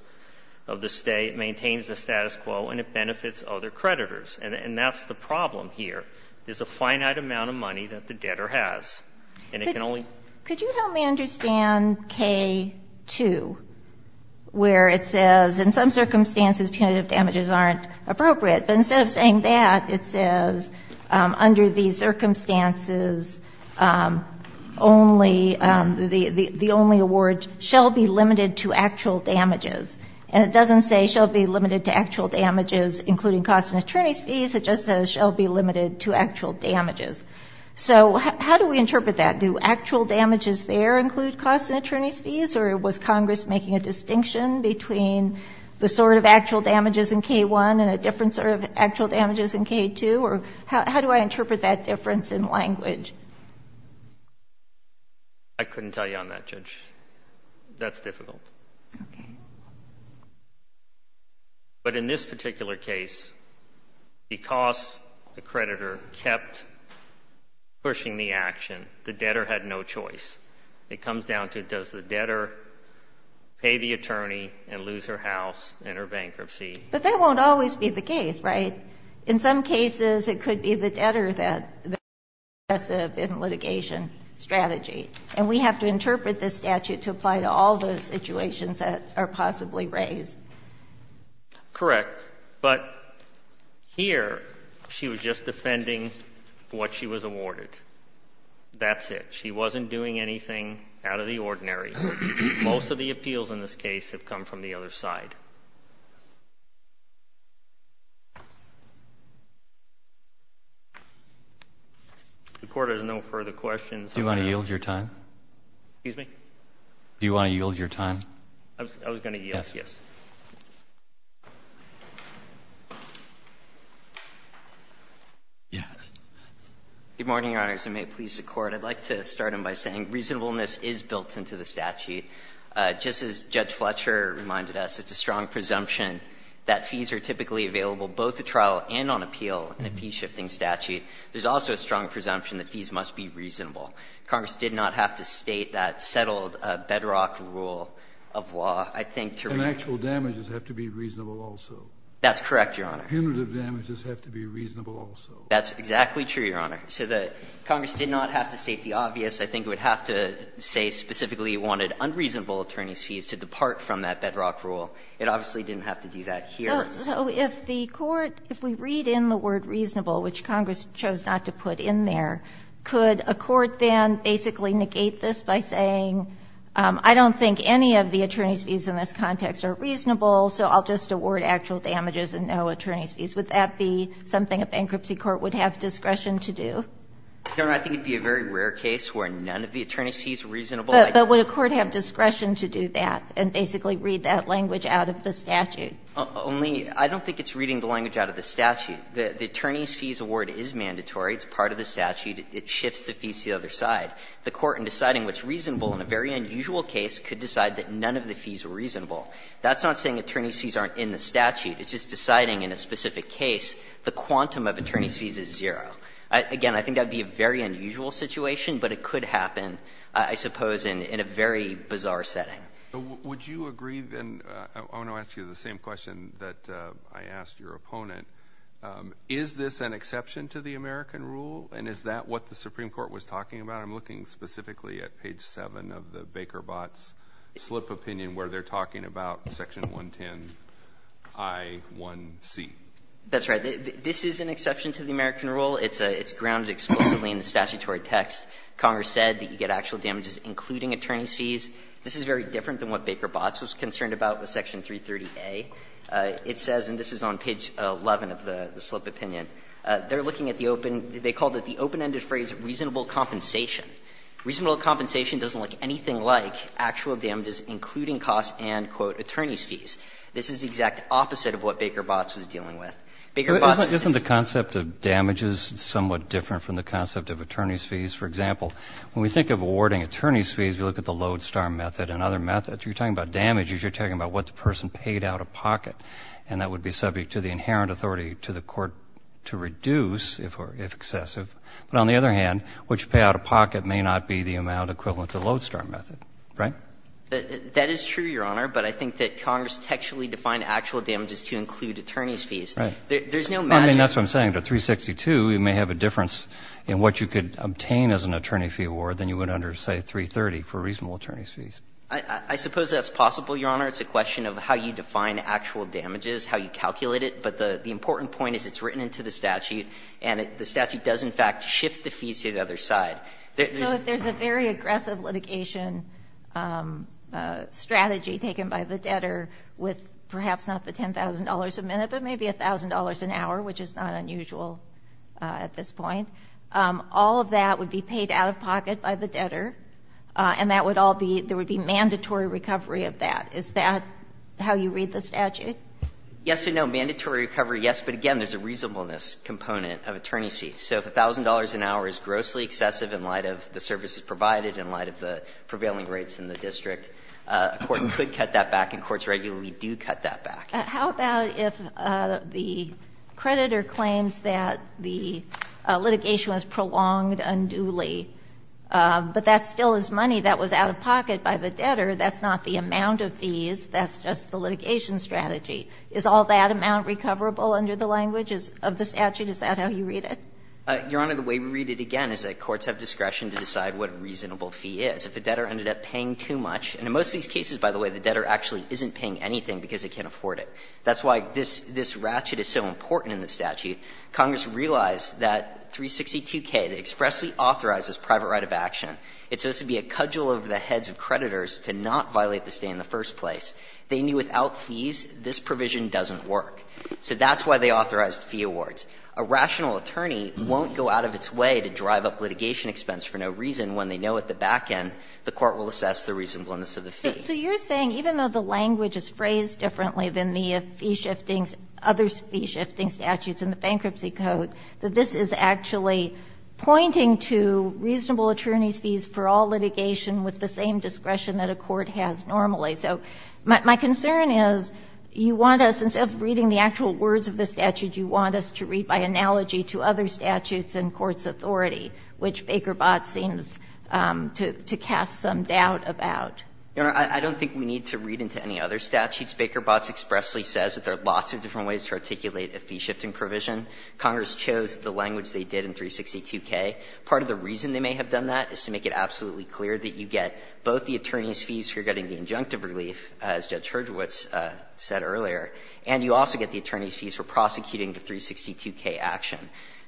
of the State, maintains the status quo, and it benefits other creditors. And that's the problem here, is the finite amount of money that the debtor has. And it can only Could you help me understand K-2, where it says in some circumstances punitive damages aren't appropriate. But instead of saying that, it says under these circumstances, the only award shall be limited to actual damages. And it doesn't say shall be limited to actual damages, including costs and attorney's fees. It just says shall be limited to actual damages. So how do we interpret that? Do actual damages there include costs and attorney's fees, or was Congress making a distinction between the sort of actual damages in K-1 and a different sort of actual damages in K-2? Or how do I interpret that difference in language? I couldn't tell you on that, Judge. That's difficult. Okay. But in this particular case, because the creditor kept pushing the action, the debtor had no choice. It comes down to does the debtor pay the attorney and lose her house and her bankruptcy? But that won't always be the case, right? In some cases, it could be the debtor that is aggressive in litigation strategy. And we have to interpret this statute to apply to all those situations that are possibly raised. Correct. But here, she was just defending what she was awarded. That's it. She wasn't doing anything out of the ordinary. Most of the appeals in this case have come from the other side. The Court has no further questions. Do you want to yield your time? Excuse me? Do you want to yield your time? I was going to yield. Good morning, Your Honors. I may please the Court. I'd like to start by saying reasonableness is built into the statute. Just as Judge Fletcher reminded us, it's a strong presumption that fees are typically available both at trial and on appeal in a fee-shifting statute. There's also a strong presumption that fees must be reasonable. Congress did not have to state that settled bedrock rule of law, I think, to reason it. And actual damages have to be reasonable also. That's correct, Your Honor. Punitive damages have to be reasonable also. That's exactly true, Your Honor. So the Congress did not have to state the obvious. I think it would have to say specifically it wanted unreasonable attorneys' fees to depart from that bedrock rule. It obviously didn't have to do that here. So if the Court, if we read in the word reasonable, which Congress chose not to put in there, could a court then basically negate this by saying, I don't think any of the attorneys' fees in this context are reasonable, so I'll just award actual damages and no attorneys' fees? Would that be something a bankruptcy court would have discretion to do? Your Honor, I think it would be a very rare case where none of the attorneys' fees are reasonable. But would a court have discretion to do that and basically read that language out of the statute? Only, I don't think it's reading the language out of the statute. The attorneys' fees award is mandatory. It's part of the statute. It shifts the fees to the other side. The Court, in deciding what's reasonable in a very unusual case, could decide that none of the fees are reasonable. That's not saying attorneys' fees aren't in the statute. It's just deciding in a specific case, the quantum of attorneys' fees is zero. Again, I think that would be a very unusual situation, but it could happen, I suppose, in a very bizarre setting. Would you agree, then, I want to ask you the same question that I asked your opponent. Is this an exception to the American rule, and is that what the Supreme Court was talking about? I'm looking specifically at page 7 of the Baker-Botts slip opinion where they're talking about section 110I1C. That's right. This is an exception to the American rule. It's grounded explicitly in the statutory text. Congress said that you get actual damages including attorneys' fees. This is very different than what Baker-Botts was concerned about with section 330A. It says, and this is on page 11 of the slip opinion, they're looking at the open they called it the open-ended phrase reasonable compensation. Reasonable compensation doesn't look anything like actual damages including costs and, quote, attorneys' fees. This is the exact opposite of what Baker-Botts was dealing with. Baker-Botts is just the same. Isn't the concept of damages somewhat different from the concept of attorneys' fees? For example, when we think of awarding attorneys' fees, we look at the Lodestar method and other methods. You're talking about damages. You're talking about what the person paid out of pocket, and that would be subject to the inherent authority to the court to reduce if excessive. But on the other hand, what you pay out of pocket may not be the amount equivalent to the Lodestar method. Right? That is true, Your Honor. But I think that Congress textually defined actual damages to include attorneys' fees. Right. There's no magic. I mean, that's what I'm saying. To 362, you may have a difference in what you could obtain as an attorney fee award than you would under, say, 330 for reasonable attorneys' fees. I suppose that's possible, Your Honor. It's a question of how you define actual damages, how you calculate it. But the important point is it's written into the statute. And the statute does, in fact, shift the fees to the other side. So if there's a very aggressive litigation strategy taken by the debtor with perhaps not the $10,000 a minute, but maybe $1,000 an hour, which is not unusual at this point, all of that would be paid out of pocket by the debtor, and that would all be, there would be mandatory recovery of that. Is that how you read the statute? Yes or no. Mandatory recovery, yes. But again, there's a reasonableness component of attorney fees. So if $1,000 an hour is grossly excessive in light of the services provided, in light of the prevailing rates in the district, a court could cut that back, and courts regularly do cut that back. How about if the creditor claims that the litigation was prolonged unduly, but that still is money that was out of pocket by the debtor. That's not the amount of fees. That's just the litigation strategy. Is all that amount recoverable under the language of the statute? Is that how you read it? Your Honor, the way we read it, again, is that courts have discretion to decide what a reasonable fee is. If the debtor ended up paying too much, and in most of these cases, by the way, the debtor actually isn't paying anything because they can't afford it. That's why this ratchet is so important in the statute. Congress realized that 362K expressly authorizes private right of action. It's supposed to be a cudgel of the heads of creditors to not violate the stay in the first place. They knew without fees, this provision doesn't work. So that's why they authorized fee awards. A rational attorney won't go out of its way to drive up litigation expense for no reason when they know at the back end the court will assess the reasonableness of the fee. So you're saying, even though the language is phrased differently than the fee-shifting others' fee-shifting statutes in the Bankruptcy Code, that this is actually pointing to reasonable attorneys' fees for all litigation with the same discretion that a court has normally. So my concern is you want us, instead of reading the actual words of the statute, you want us to read by analogy to other statutes and courts' authority, which Baker Botts seems to cast some doubt about. I don't think we need to read into any other statutes. Baker Botts expressly says that there are lots of different ways to articulate a fee-shifting provision. Congress chose the language they did in 362K. Part of the reason they may have done that is to make it absolutely clear that you get both the attorneys' fees for getting the injunctive relief, as Judge Hurdgewitz said earlier, and you also get the attorneys' fees for prosecuting the 362K action.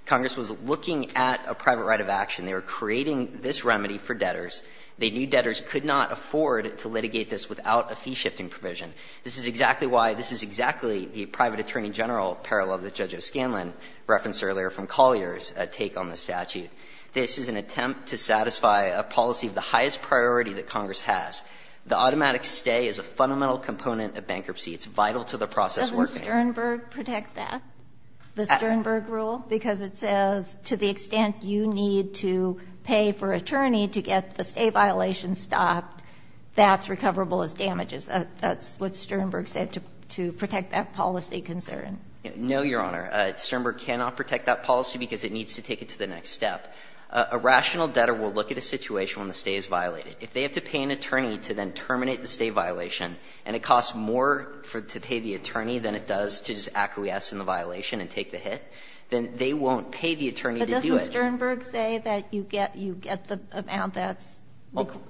Congress was looking at a private right of action. They were creating this remedy for debtors. They knew debtors could not afford to litigate this without a fee-shifting provision. This is exactly why this is exactly the private attorney general parallel that Judge O'Scanlan referenced earlier from Collier's take on the statute. This is an attempt to satisfy a policy of the highest priority that Congress has. The automatic stay is a fundamental component of bankruptcy. It's vital to the process working. Ginsburg. Does Sternberg protect that, the Sternberg rule? Because it says to the extent you need to pay for attorney to get the stay violation stopped, that's recoverable as damages. That's what Sternberg said to protect that policy concern. No, Your Honor. Sternberg cannot protect that policy because it needs to take it to the next step. A rational debtor will look at a situation when the stay is violated. If they have to pay an attorney to then terminate the stay violation and it costs more to pay the attorney than it does to just acquiesce in the violation and take the hit, then they won't pay the attorney to do it. But doesn't Sternberg say that you get the amount that's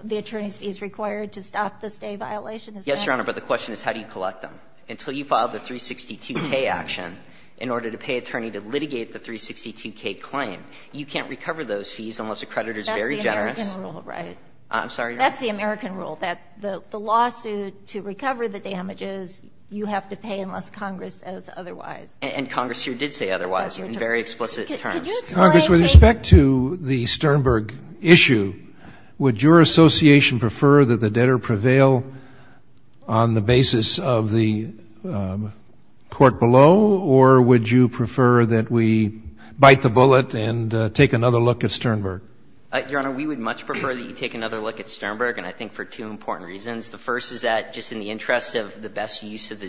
the attorney's fees required to stop the stay violation? Yes, Your Honor, but the question is how do you collect them? Until you file the 362K action in order to pay attorney to litigate the 362K claim, you can't recover those fees unless a creditor is very generous. That's the American rule, right? I'm sorry, Your Honor. That's the American rule, that the lawsuit to recover the damages, you have to pay unless Congress says otherwise. And Congress here did say otherwise in very explicit terms. Could you explain? Congress, with respect to the Sternberg issue, would your association prefer that the debtor prevail on the basis of the court below, or would you prefer that we bite the bullet and take another look at Sternberg? Your Honor, we would much prefer that you take another look at Sternberg, and I think for two important reasons. The first is that just in the interest of the best use of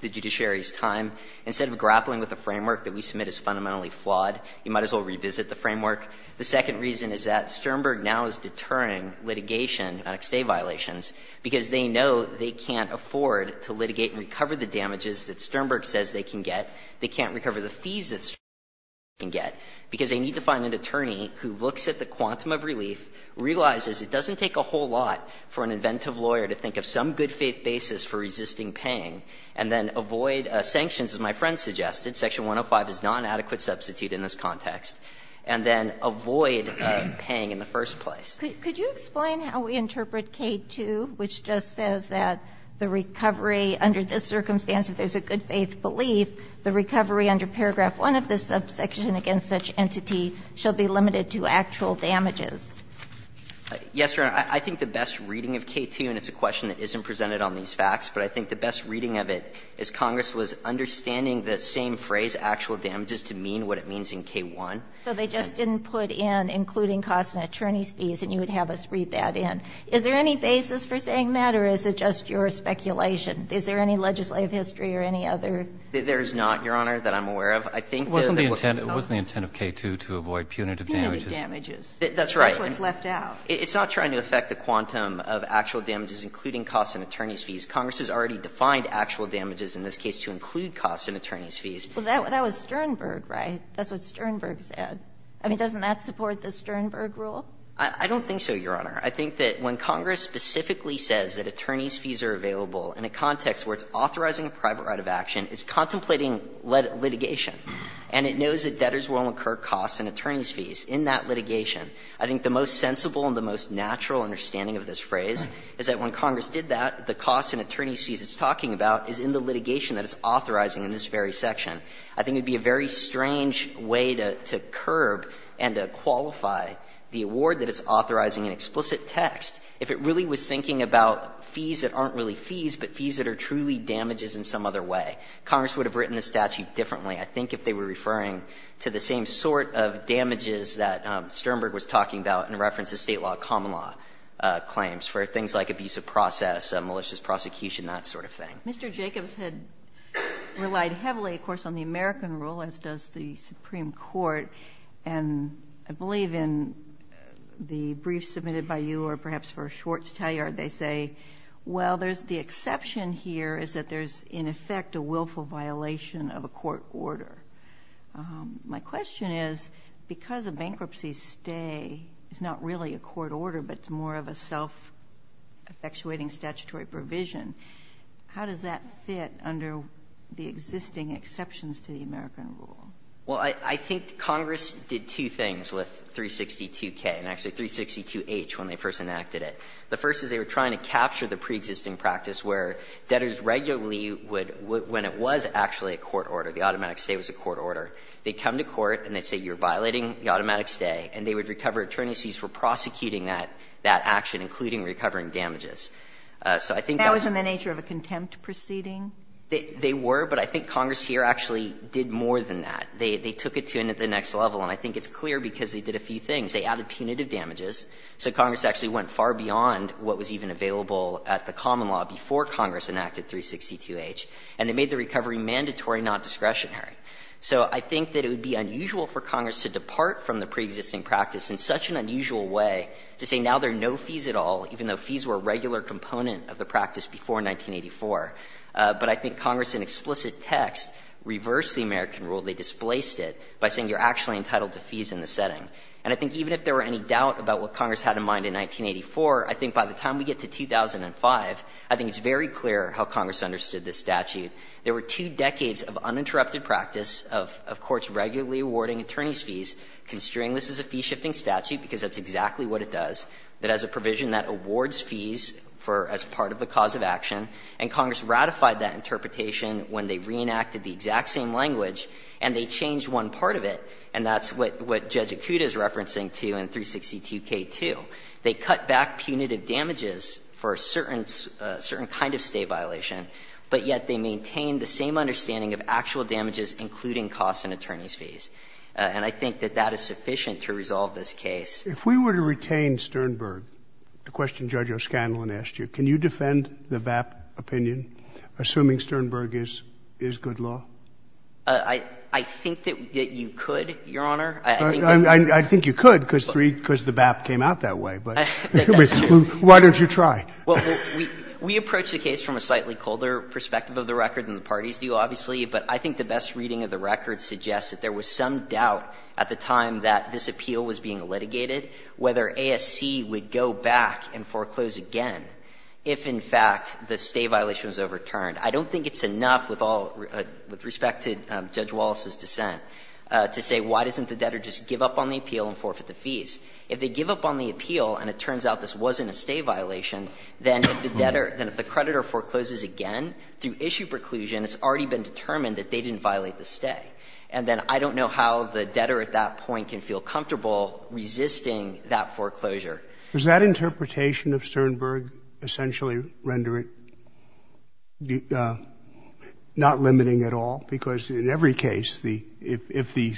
the judiciary's time, instead of grappling with the framework that we submit as fundamentally flawed, you might as well revisit the framework. The second reason is that Sternberg now is deterring litigation on stay violations because they know they can't afford to litigate and recover the damages that Sternberg says they can get. They can't recover the fees that Sternberg says they can get, because they need to find an attorney who looks at the quantum of relief, realizes it doesn't take a whole lot for an inventive lawyer to think of some good faith basis for resisting paying, and then avoid sanctions, as my friend suggested. Section 105 is not an adequate substitute in this context. And then avoid paying in the first place. Could you explain how we interpret K2, which just says that the recovery under this subsection against such entity shall be limited to actual damages? Yes, Your Honor, I think the best reading of K2, and it's a question that isn't presented on these facts, but I think the best reading of it is Congress was understanding the same phrase, actual damages, to mean what it means in K1. So they just didn't put in including costs and attorney's fees, and you would have us read that in. Is there any basis for saying that, or is it just your speculation? Is there any legislative history or any other? There is not, Your Honor, that I'm aware of. I think that what we know is that there is no legislative history or any other. It wasn't the intent of K2 to avoid punitive damages. Punitive damages. That's right. That's what's left out. It's not trying to affect the quantum of actual damages, including costs and attorney's fees. Congress has already defined actual damages in this case to include costs and attorney's fees. Well, that was Sternberg, right? That's what Sternberg said. I mean, doesn't that support the Sternberg rule? I don't think so, Your Honor. I think that when Congress specifically says that attorney's fees are available in a context where it's authorizing a private right of action, it's contemplating litigation. And it knows that debtors will incur costs and attorney's fees in that litigation. I think the most sensible and the most natural understanding of this phrase is that when Congress did that, the costs and attorney's fees it's talking about is in the litigation that it's authorizing in this very section. I think it would be a very strange way to curb and to qualify the award that it's authorizing in explicit text if it really was thinking about fees that aren't really fees, but fees that are truly damages in some other way. Congress would have written the statute differently, I think, if they were referring to the same sort of damages that Sternberg was talking about in reference to State law, common law claims for things like abuse of process, malicious prosecution, that sort of thing. Mr. Jacobs had relied heavily, of course, on the American rule, as does the Supreme Court. And I believe in the brief submitted by you or perhaps for Schwartz-Talliard, they say, well, there's the exception here is that there's, in effect, a willful violation of a court order. My question is, because a bankruptcy stay is not really a court order, but it's more of a self-effectuating statutory provision, how does that fit under the existing exceptions to the American rule? Well, I think Congress did two things with 362K and actually 362H when they first enacted it. The first is they were trying to capture the preexisting practice where debtors regularly would, when it was actually a court order, the automatic stay was a court order, they'd come to court and they'd say you're violating the automatic stay, and they would recover attorneys' fees for prosecuting that action, including recovering damages. So I think that was in the nature of a contempt proceeding. They were, but I think Congress here actually did more than that. They took it to the next level, and I think it's clear because they did a few things. They added punitive damages, so Congress actually went far beyond what was even available at the common law before Congress enacted 362H, and it made the recovery mandatory, not discretionary. So I think that it would be unusual for Congress to depart from the preexisting practice in such an unusual way to say now there are no fees at all, even though fees were a regular component of the practice before 1984. But I think Congress, in explicit text, reversed the American rule. They displaced it by saying you're actually entitled to fees in the setting. And I think even if there were any doubt about what Congress had in mind in 1984, I think by the time we get to 2005, I think it's very clear how Congress understood this statute. There were two decades of uninterrupted practice of courts regularly awarding attorneys' fees, considering this is a fee-shifting statute, because that's exactly what it does, that has a provision that awards fees for as part of the cause of action, and Congress ratified that interpretation when they reenacted the exact same language, and they changed one part of it. And that's what Judge Akuta is referencing, too, in 362K2. They cut back punitive damages for a certain kind of State violation, but yet they maintain the same understanding of actual damages, including costs and attorneys' fees. And I think that that is sufficient to resolve this case. If we were to retain Sternberg, the question Judge O'Scanlan asked you, can you defend the VAP opinion, assuming Sternberg is good law? I think that you could, Your Honor. I think that you could, because the VAP came out that way, but why don't you try? We approach the case from a slightly colder perspective of the record than the parties do, obviously, but I think the best reading of the record suggests that there was some doubt at the time that this appeal was being litigated whether ASC would go back and foreclose again if, in fact, the State violation was overturned. I don't think it's enough with all the respect to Judge Wallace's dissent to say why doesn't the debtor just give up on the appeal and forfeit the fees. If they give up on the appeal and it turns out this wasn't a State violation, then if the creditor forecloses again through issue preclusion, it's already been determined that they didn't violate the State. And then I don't know how the debtor at that point can feel comfortable resisting that foreclosure. Does that interpretation of Sternberg essentially render it not limiting at all? Because in every case, if the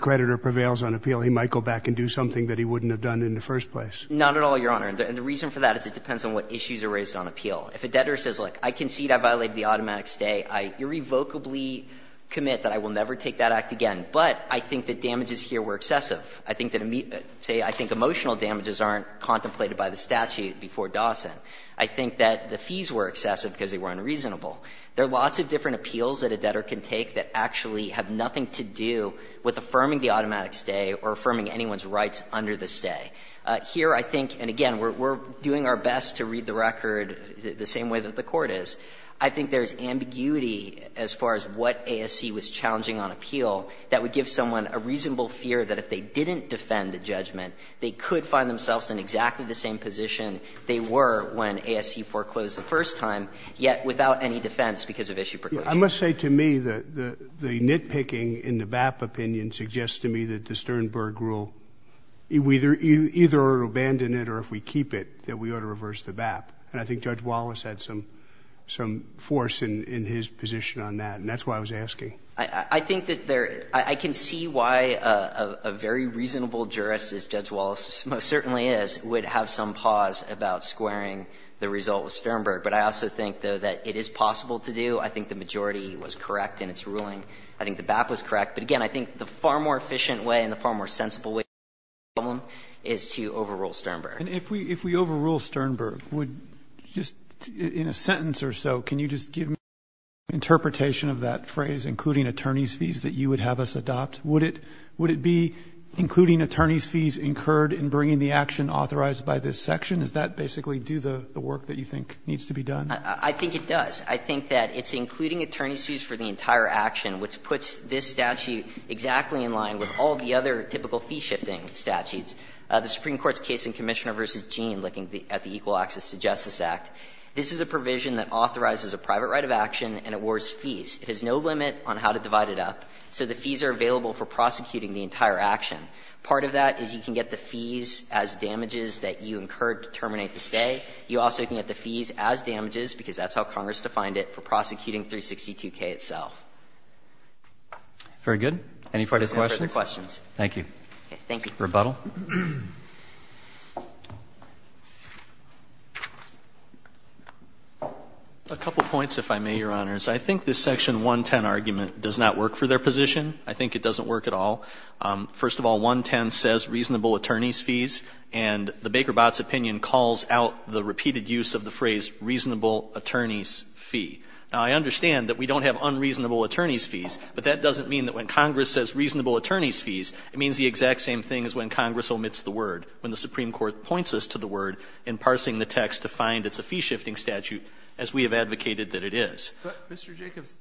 creditor prevails on appeal, he might go back and do something that he wouldn't have done in the first place. Not at all, Your Honor. And the reason for that is it depends on what issues are raised on appeal. If a debtor says, look, I concede I violated the automatic stay, I irrevocably commit that I will never take that act again, but I think that damages here were excessive. I think that emotional damages aren't contemplated by the statute before Dawson. I think that the fees were excessive because they were unreasonable. There are lots of different appeals that a debtor can take that actually have nothing to do with affirming the automatic stay or affirming anyone's rights under the stay. Here, I think, and again, we're doing our best to read the record the same way that the Court is. I think there's ambiguity as far as what ASC was challenging on appeal that would give someone a reasonable fear that if they didn't defend the judgment, they could find themselves in exactly the same position they were when ASC foreclosed the first time, yet without any defense because of issue precaution. I must say to me that the nitpicking in the BAP opinion suggests to me that the Sternberg rule, either we abandon it or if we keep it, that we ought to reverse the BAP. And I think Judge Wallace had some force in his position on that. And that's why I was asking. I think that there, I can see why a very reasonable jurist, as Judge Wallace most certainly is, would have some pause about squaring the result with Sternberg. But I also think, though, that it is possible to do. I think the majority was correct in its ruling. I think the BAP was correct. But again, I think the far more efficient way and the far more sensible way to solve the problem is to overrule Sternberg. And if we overrule Sternberg, would just in a sentence or so, can you just give me an example of that phrase, including attorney's fees, that you would have us adopt? Would it be including attorney's fees incurred in bringing the action authorized by this section? Does that basically do the work that you think needs to be done? I think it does. I think that it's including attorney's fees for the entire action, which puts this statute exactly in line with all the other typical fee-shifting statutes. The Supreme Court's case in Commissioner v. Gene, looking at the Equal Access to Justice Act, this is a provision that authorizes a private right of action and it awards fees. It has no limit on how to divide it up, so the fees are available for prosecuting the entire action. Part of that is you can get the fees as damages that you incurred to terminate the stay. You also can get the fees as damages, because that's how Congress defined it, for prosecuting 362K itself. Very good. Any further questions? Thank you. Thank you. Rebuttal? A couple points, if I may, Your Honors. I think this section 110 argument does not work for their position. I think it doesn't work at all. First of all, 110 says reasonable attorney's fees, and the Baker-Botz opinion calls out the repeated use of the phrase reasonable attorney's fee. Now, I understand that we don't have unreasonable attorney's fees, but that doesn't mean that when Congress says reasonable attorney's fees, it means the exact same thing as when Congress omits the word, when the Supreme Court points us to the word in parsing the text to find it's a fee-shifting statute, as we have advocated that it is. Mr. Jacobs,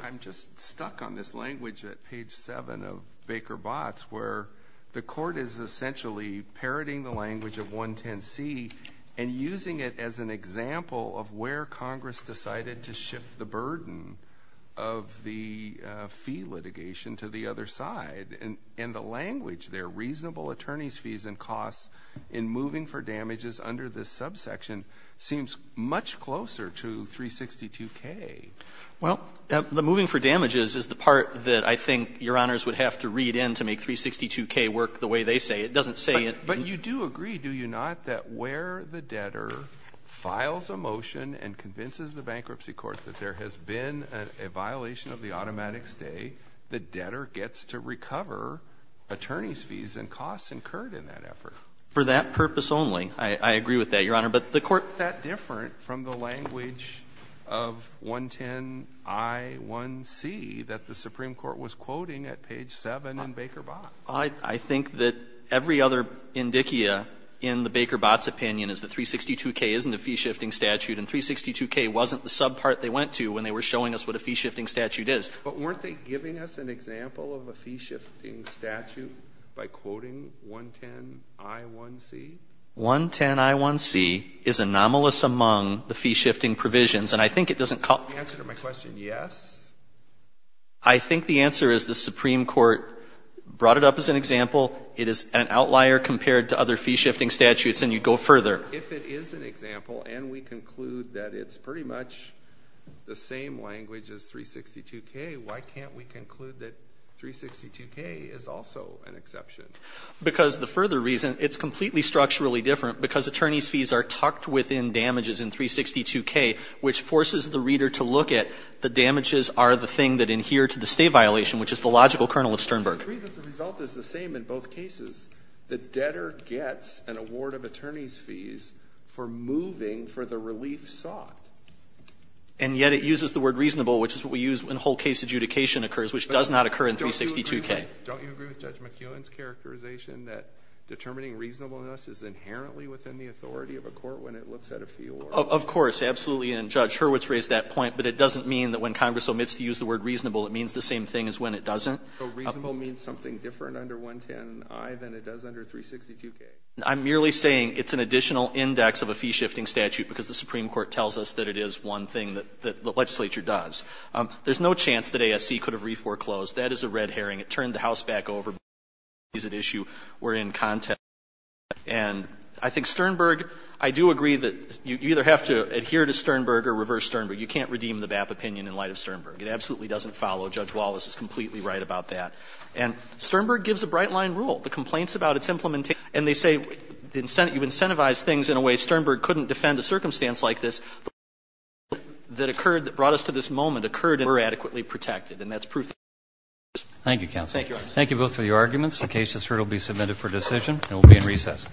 I'm just stuck on this language at page 7 of Baker-Botz, where the court is essentially parroting the language of 110C and using it as an example of where Congress decided to shift the burden of the fee litigation to the other side. And the language there, reasonable attorney's fees and costs in moving for damages is the part that I think Your Honors would have to read in to make 362K work the way they say. It doesn't say it. But you do agree, do you not, that where the debtor files a motion and convinces the bankruptcy court that there has been a violation of the automatic stay, the debtor gets to recover attorney's fees and costs incurred in that effort? For that purpose only. I agree with that, Your Honor. But the court — Isn't that different from the language of 110I1C that the Supreme Court was quoting at page 7 in Baker-Botz? I think that every other indicia in the Baker-Botz opinion is that 362K isn't a fee-shifting statute, and 362K wasn't the subpart they went to when they were showing us what a fee-shifting statute is. But weren't they giving us an example of a fee-shifting statute by quoting 110I1C? 110I1C is anomalous among the fee-shifting provisions, and I think it doesn't call — The answer to my question, yes? I think the answer is the Supreme Court brought it up as an example. It is an outlier compared to other fee-shifting statutes, and you'd go further. If it is an example and we conclude that it's pretty much the same language as 362K, why can't we conclude that 362K is also an exception? Because the further reason, it's completely structurally different because attorney's fees are tucked within damages in 362K, which forces the reader to look at the damages are the thing that adhere to the state violation, which is the logical kernel of Sternberg. I agree that the result is the same in both cases. The debtor gets an award of attorney's fees for moving for the relief sought. And yet it uses the word reasonable, which is what we use when whole case adjudication occurs, which does not occur in 362K. Don't you agree with Judge McEwen's characterization that determining reasonableness is inherently within the authority of a court when it looks at a fee award? Of course, absolutely. And Judge Hurwitz raised that point, but it doesn't mean that when Congress omits to use the word reasonable, it means the same thing as when it doesn't. So reasonable means something different under 110I than it does under 362K? I'm merely saying it's an additional index of a fee-shifting statute because the Supreme Court tells us that it is one thing that the legislature does. There's no chance that ASC could have re-foreclosed. That is a red herring. It turned the House back over. Both cases at issue were in context. And I think Sternberg — I do agree that you either have to adhere to Sternberg or reverse Sternberg. You can't redeem the BAP opinion in light of Sternberg. It absolutely doesn't follow. Judge Wallace is completely right about that. And Sternberg gives a bright-line rule. The complaints about its implementation — and they say you incentivize things in a way Sternberg couldn't defend a circumstance like this. The rule that occurred that brought us to this moment occurred and we're adequately protected, and that's proof that Sternberg is. Thank you, counsel. Thank you, Your Honor. Thank you both for your arguments. The case is heard. It will be submitted for decision. And we'll be in recess.